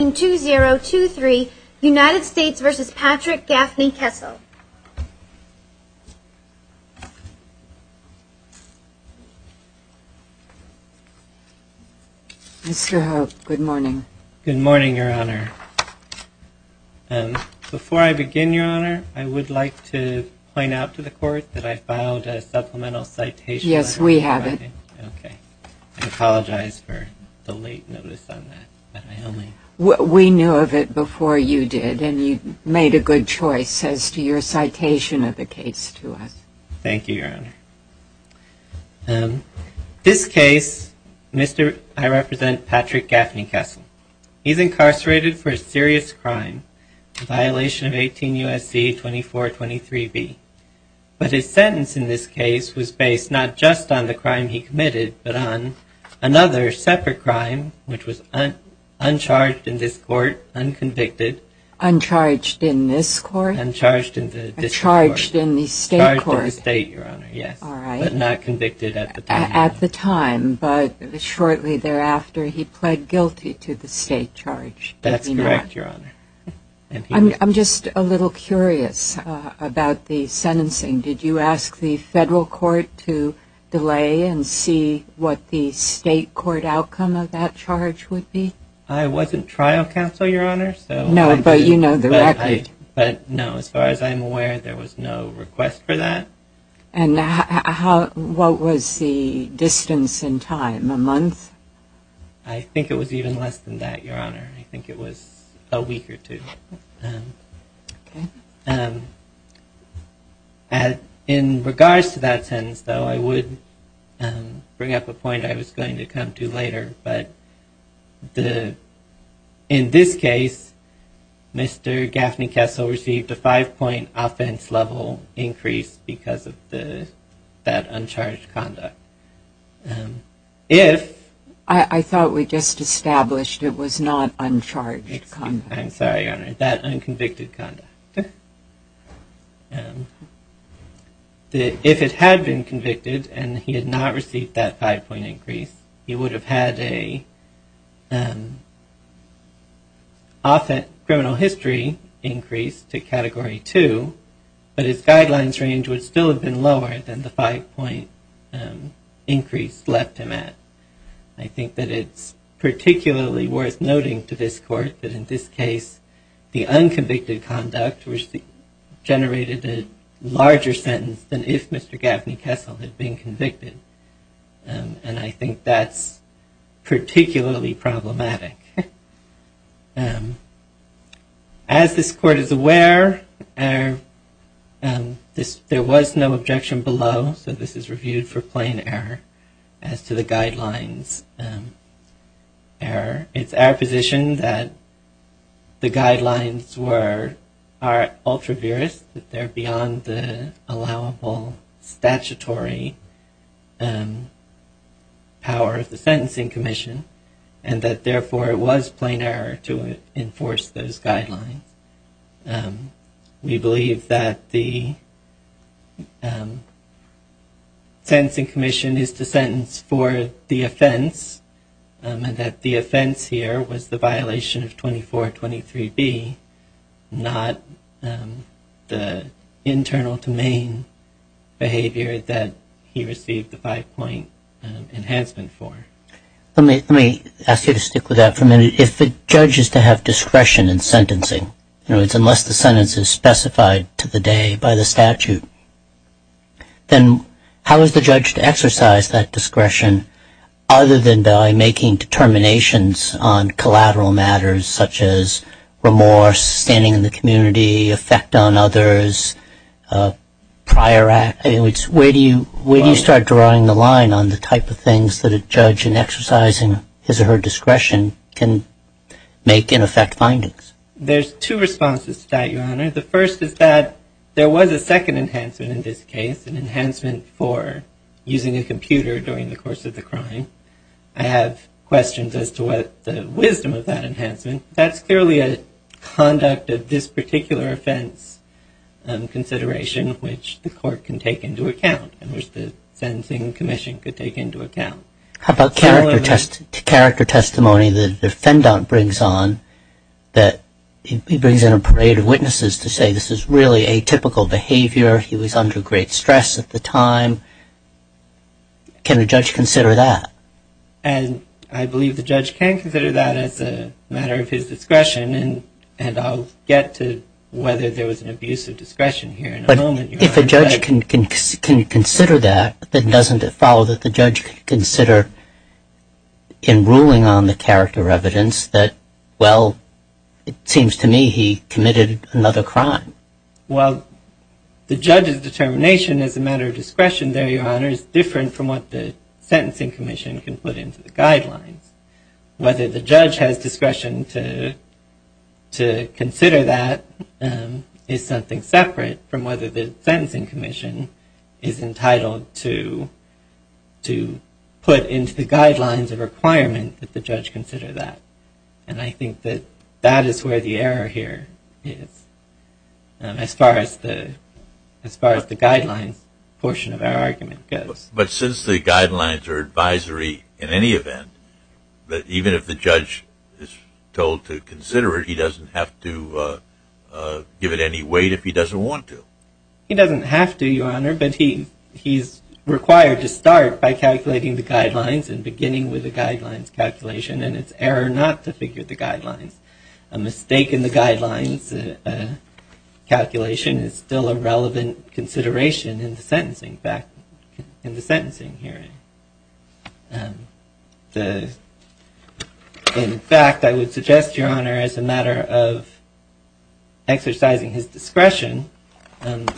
Mr. Hope, good morning. Good morning, Your Honor. Before I begin, Your Honor, I would like to point out to the Court that I filed a supplemental citation. Yes, we have it. Okay. I apologize for the late notice on that. We knew of it before you did, and you made a good choice as to your citation of the case to us. Thank you, Your Honor. This case, I represent Patrick Gaffney-Kessell. He's incarcerated for a serious crime, a violation of 18 U.S.C. 2423b, but his sentence in this case was based not just on the crime he committed, but on another separate crime, which was uncharged in this Court, unconvicted. Uncharged in this Court? Uncharged in the District Court. Uncharged in the State Court? Charged in the State, Your Honor, yes. All right. But not convicted at the time. At the time, but shortly thereafter, he pled guilty to the State charge, did he not? That's correct, Your Honor. I'm just a little curious about the sentencing. Did you ask the Federal Court to delay and see what the State Court outcome of that charge would be? I wasn't trial counsel, Your Honor. No, but you know the record. But no, as far as I'm aware, there was no request for that. And how, what was the distance in time? A month? I think it was even less than that, Your Honor. I think it was a week or two. In regards to that sentence, though, I would bring up a point I was going to come to later, but in this case, Mr. Gaffney Kessel received a five-point offense level increase because of that uncharged conduct. If... I thought we just established it was not uncharged conduct. I'm sorry, Your Honor, that unconvicted conduct. If it had been convicted and he had not received that five-point increase, he would have had a criminal history increase to Category 2, but his guidelines range would still have been lower than the five-point increase left him at. I think that it's particularly worth noting to this Court that in this case, the unconvicted conduct was generated a larger sentence than if Mr. Gaffney Kessel had been convicted. And I think that's particularly problematic. As this Court is aware, there was no objection below, so this is reviewed for plain error, as to the guidelines error. It's our position that the guidelines were, are ultraviorous, that they're beyond the allowable statutory power of the Sentencing Commission, and that therefore it was plain error to enforce those guidelines. We believe that the Sentencing Commission is to sentence for the offense, and that the offense here was the violation of 2423B, not the internal to main behavior that he received the five-point enhancement for. Let me ask you to stick with that for a minute. If the judge is to have discretion in sentencing, in other words, unless the sentence is specified to the day by the statute, then how is the judge to exercise that discretion other than by making determinations on collateral matters, such as remorse, standing in the community, effect on others, prior act? I mean, where do you start drawing the line on the type of things that a judge in exercising his or her discretion can make and affect findings? There's two responses to that, Your Honor. The first is that there was a second enhancement in this case, an enhancement for using a computer during the course of the crime. I have questions as to what the wisdom of that enhancement. That's clearly a conduct of this particular offense consideration, which the Court can take into account, and which the Sentencing Commission could take into account. How about character testimony that the defendant brings on, that he brings in a parade of witnesses to say this is really atypical behavior, he was under great stress at the time. Can a judge consider that? And I believe the judge can consider that as a matter of his discretion, and I'll get to whether there was an abuse of discretion here in a moment, Your Honor. But if a judge can consider that, then doesn't it follow that the judge could consider in ruling on the character evidence that, well, it seems to me he committed another crime? Well, the judge's determination as a matter of discretion there, Your Honor, is different from what the Sentencing Commission can put into the guidelines. Whether the judge has discretion to consider that is something separate from whether the Sentencing Commission is entitled to put into the guidelines a requirement that the judge consider that. And I think that that is where the error here is, as far as the guidelines portion of our argument goes. But since the guidelines are advisory in any event, even if the judge is told to consider it, he doesn't have to give it any weight if he doesn't want to? He doesn't have to, Your Honor, but he's required to start by calculating the guidelines and beginning with the guidelines calculation, and it's error not to figure the guidelines. A mistake in the guidelines calculation is still a relevant consideration in the sentencing hearing. In fact, I would suggest, Your Honor, as a matter of exercising his discretion,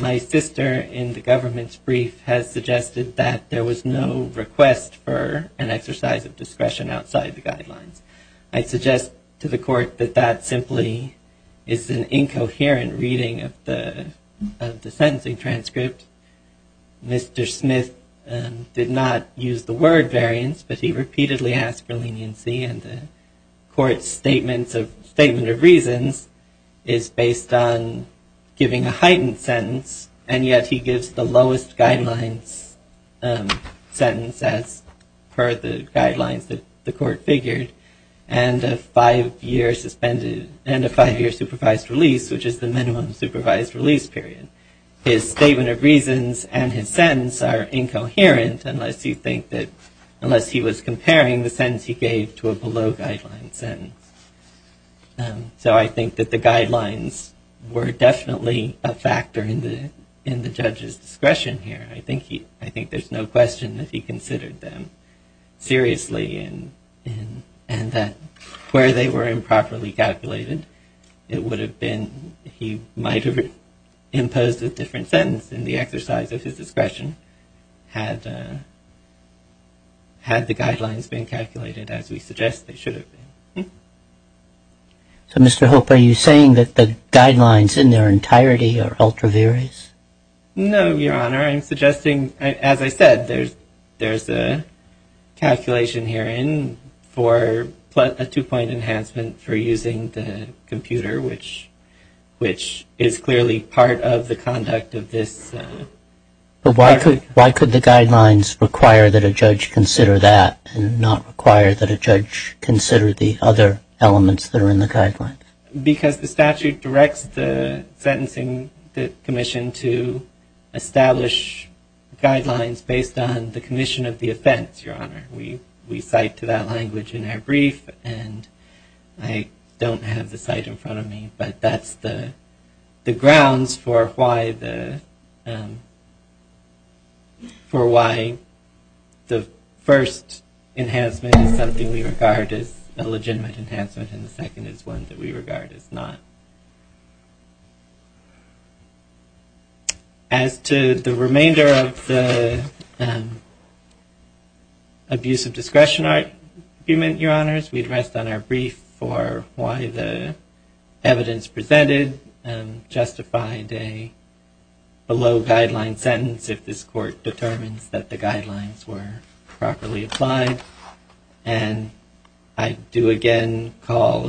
my sister in the government's brief has suggested that there was no request for an exercise of discretion outside the guidelines. I suggest to the court that that simply is an incoherent reading of the sentencing transcript. Mr. Smith did not use the word variance, but he repeatedly asked for leniency, and the court's statement of reasons is based on giving a heightened sentence, and yet he gives the lowest guidelines sentence, as per the guidelines that the court figured, and a five-year supervised release, which is the minimum supervised release period. His statement of reasons and his sentence are incoherent unless he was comparing the sentence he gave to a below-guidelines sentence. So I think that the guidelines were definitely a factor in the judge's discretion here. I think there's no question that he considered them seriously and that where they were improperly calculated, it would have been, he might have imposed a different sentence in the exercise of his discretion had the guidelines been calculated as we suggest they should have been. So, Mr. Hope, are you saying that the guidelines in their entirety are ultra-various? No, Your Honor. I'm suggesting, as I said, there's a calculation herein for a two-point enhancement for using the computer, which is clearly part of the conduct of this. But why could the guidelines require that a judge consider that and not require that a judge consider the other elements that are in the guidelines? Because the statute directs the sentencing commission to establish guidelines based on the commission of the offense, Your Honor. We cite to that language in our brief, and I don't have the cite in front of me, but that's the grounds for why the first enhancement is something we regard as a legitimate enhancement and the second is one that we regard as not. As to the remainder of the abuse of discretion argument, Your Honors, we'd rest on our brief for why the evidence presented justified a below-guideline sentence if this court determines that the guidelines were properly applied. And I do again call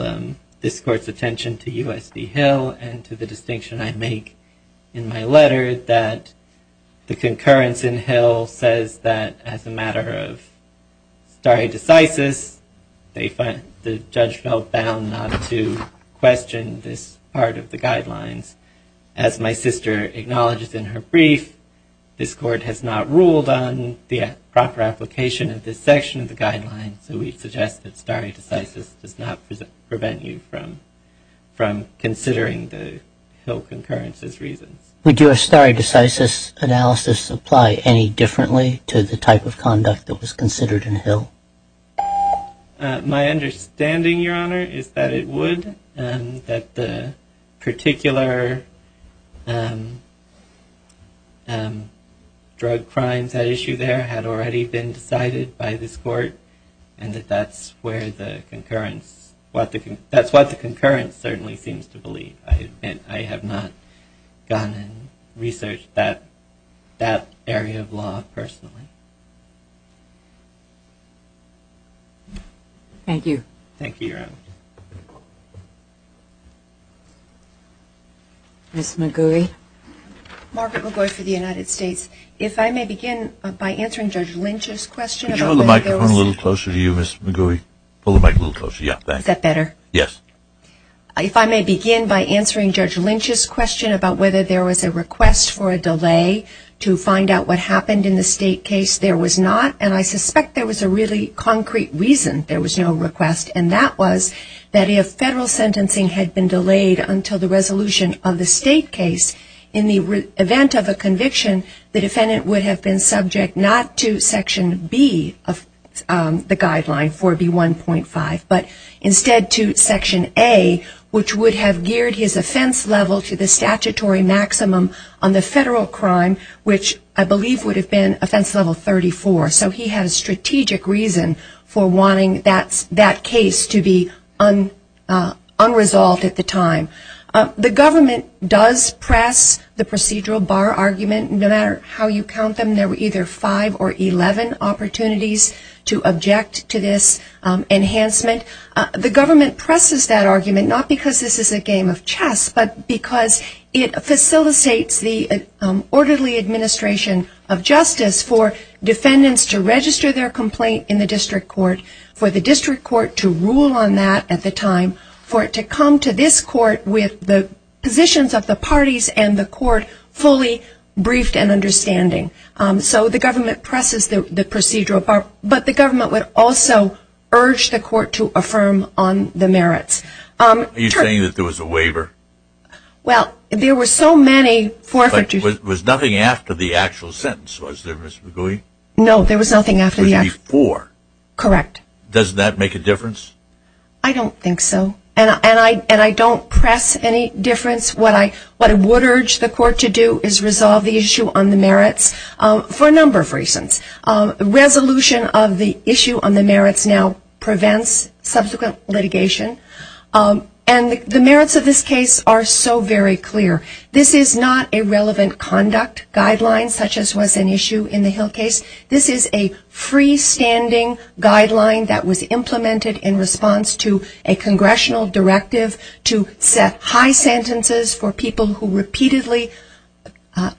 this court's attention to U.S. v. Hill and to the distinction I make in my letter that the concurrence in Hill says that as a matter of stare decisis, the judge felt bound not to question this part of the guidelines. As my sister acknowledges in her brief, this court has not ruled on the proper application of this section of the guidelines, so we'd suggest that stare decisis does not prevent you from considering the Hill concurrence's reasons. Would your stare decisis analysis apply any differently to the type of conduct that was considered in Hill? My understanding, Your Honor, is that it would, that the particular drug crimes at issue there had already been decided by this court, and that that's what the concurrence certainly seems to believe. I have not gone and researched that area of law personally. Thank you. Thank you, Your Honor. Ms. McGooey. Margaret McGooey for the United States. If I may begin by answering Judge Lynch's question. Could you hold the microphone a little closer to you, Ms. McGooey? Hold the mic a little closer, yeah. Is that better? Yes. If I may begin by answering Judge Lynch's question about whether there was a request for a delay to find out what happened in the state case, there was not. And I suspect there was a really concrete reason there was no request, and that was that if federal sentencing had been delayed until the resolution of the state case, in the event of a conviction, the defendant would have been subject not to Section B of the guideline, 4B1.5, but instead to Section A, which would have geared his offense level to the statutory maximum on the federal crime, which I believe would have been offense level 34. So he had a strategic reason for wanting that case to be unresolved at the time. The government does press the procedural bar argument. No matter how you count them, there were either five or 11 opportunities to object to this enhancement. The government presses that argument not because this is a game of chess, but because it facilitates the orderly administration of justice for defendants to register their complaint in the district court, for the district court to rule on that at the time, for it to come to this court with the positions of the parties and the court fully briefed and understanding. So the government presses the procedural bar. But the government would also urge the court to affirm on the merits. Are you saying that there was a waiver? Well, there were so many forfeitures. But was nothing after the actual sentence, was there, Ms. McGooey? No, there was nothing after the actual sentence. It was before. Correct. Does that make a difference? I don't think so. And I don't press any difference. What I would urge the court to do is resolve the issue on the merits for a number of reasons. The resolution of the issue on the merits now prevents subsequent litigation. And the merits of this case are so very clear. This is not a relevant conduct guideline, such as was an issue in the Hill case. This is a freestanding guideline that was implemented in response to a congressional directive to set high sentences for people who repeatedly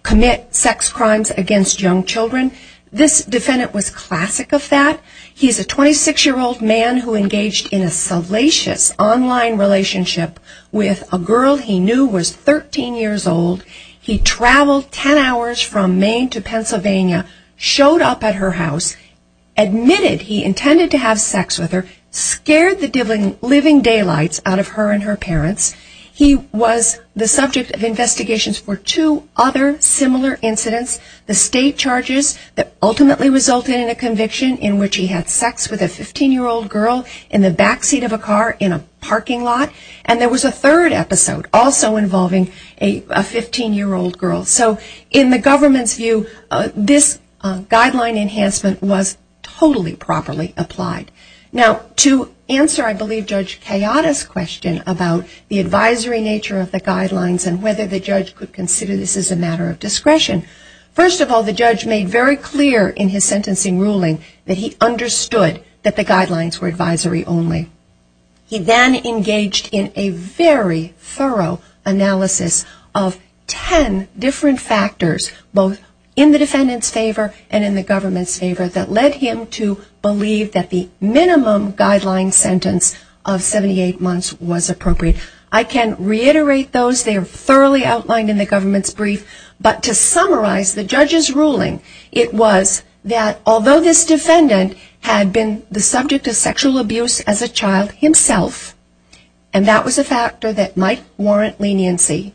commit sex crimes against young children. This defendant was classic of that. He's a 26-year-old man who engaged in a salacious online relationship with a girl he knew was 13 years old. He traveled 10 hours from Maine to Pennsylvania, showed up at her house, admitted he intended to have sex with her, scared the living daylights out of her and her parents. He was the subject of investigations for two other similar incidents, the state charges that ultimately resulted in a conviction in which he had sex with a 15-year-old girl in the back seat of a car in a parking lot. And there was a third episode also involving a 15-year-old girl. So in the government's view, this guideline enhancement was totally properly applied. Now, to answer, I believe, Judge Kayada's question about the advisory nature of the guidelines and whether the judge could consider this as a matter of discretion, first of all, the judge made very clear in his sentencing ruling that he understood that the guidelines were advisory only. He then engaged in a very thorough analysis of 10 different factors, both in the defendant's favor and in the government's favor, that led him to believe that the minimum guideline sentence of 78 months was appropriate. I can reiterate those. They are thoroughly outlined in the government's brief. But to summarize the judge's ruling, it was that although this defendant had been the subject of sexual abuse as a child himself, and that was a factor that might warrant leniency,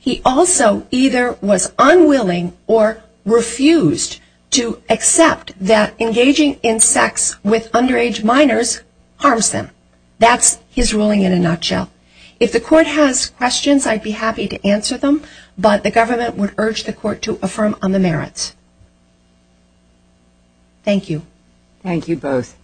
he also either was unwilling or refused to accept that engaging in sex with underage minors harms them. That's his ruling in a nutshell. If the court has questions, I'd be happy to answer them, but the government would urge the court to affirm on the merits. Thank you. Thank you both.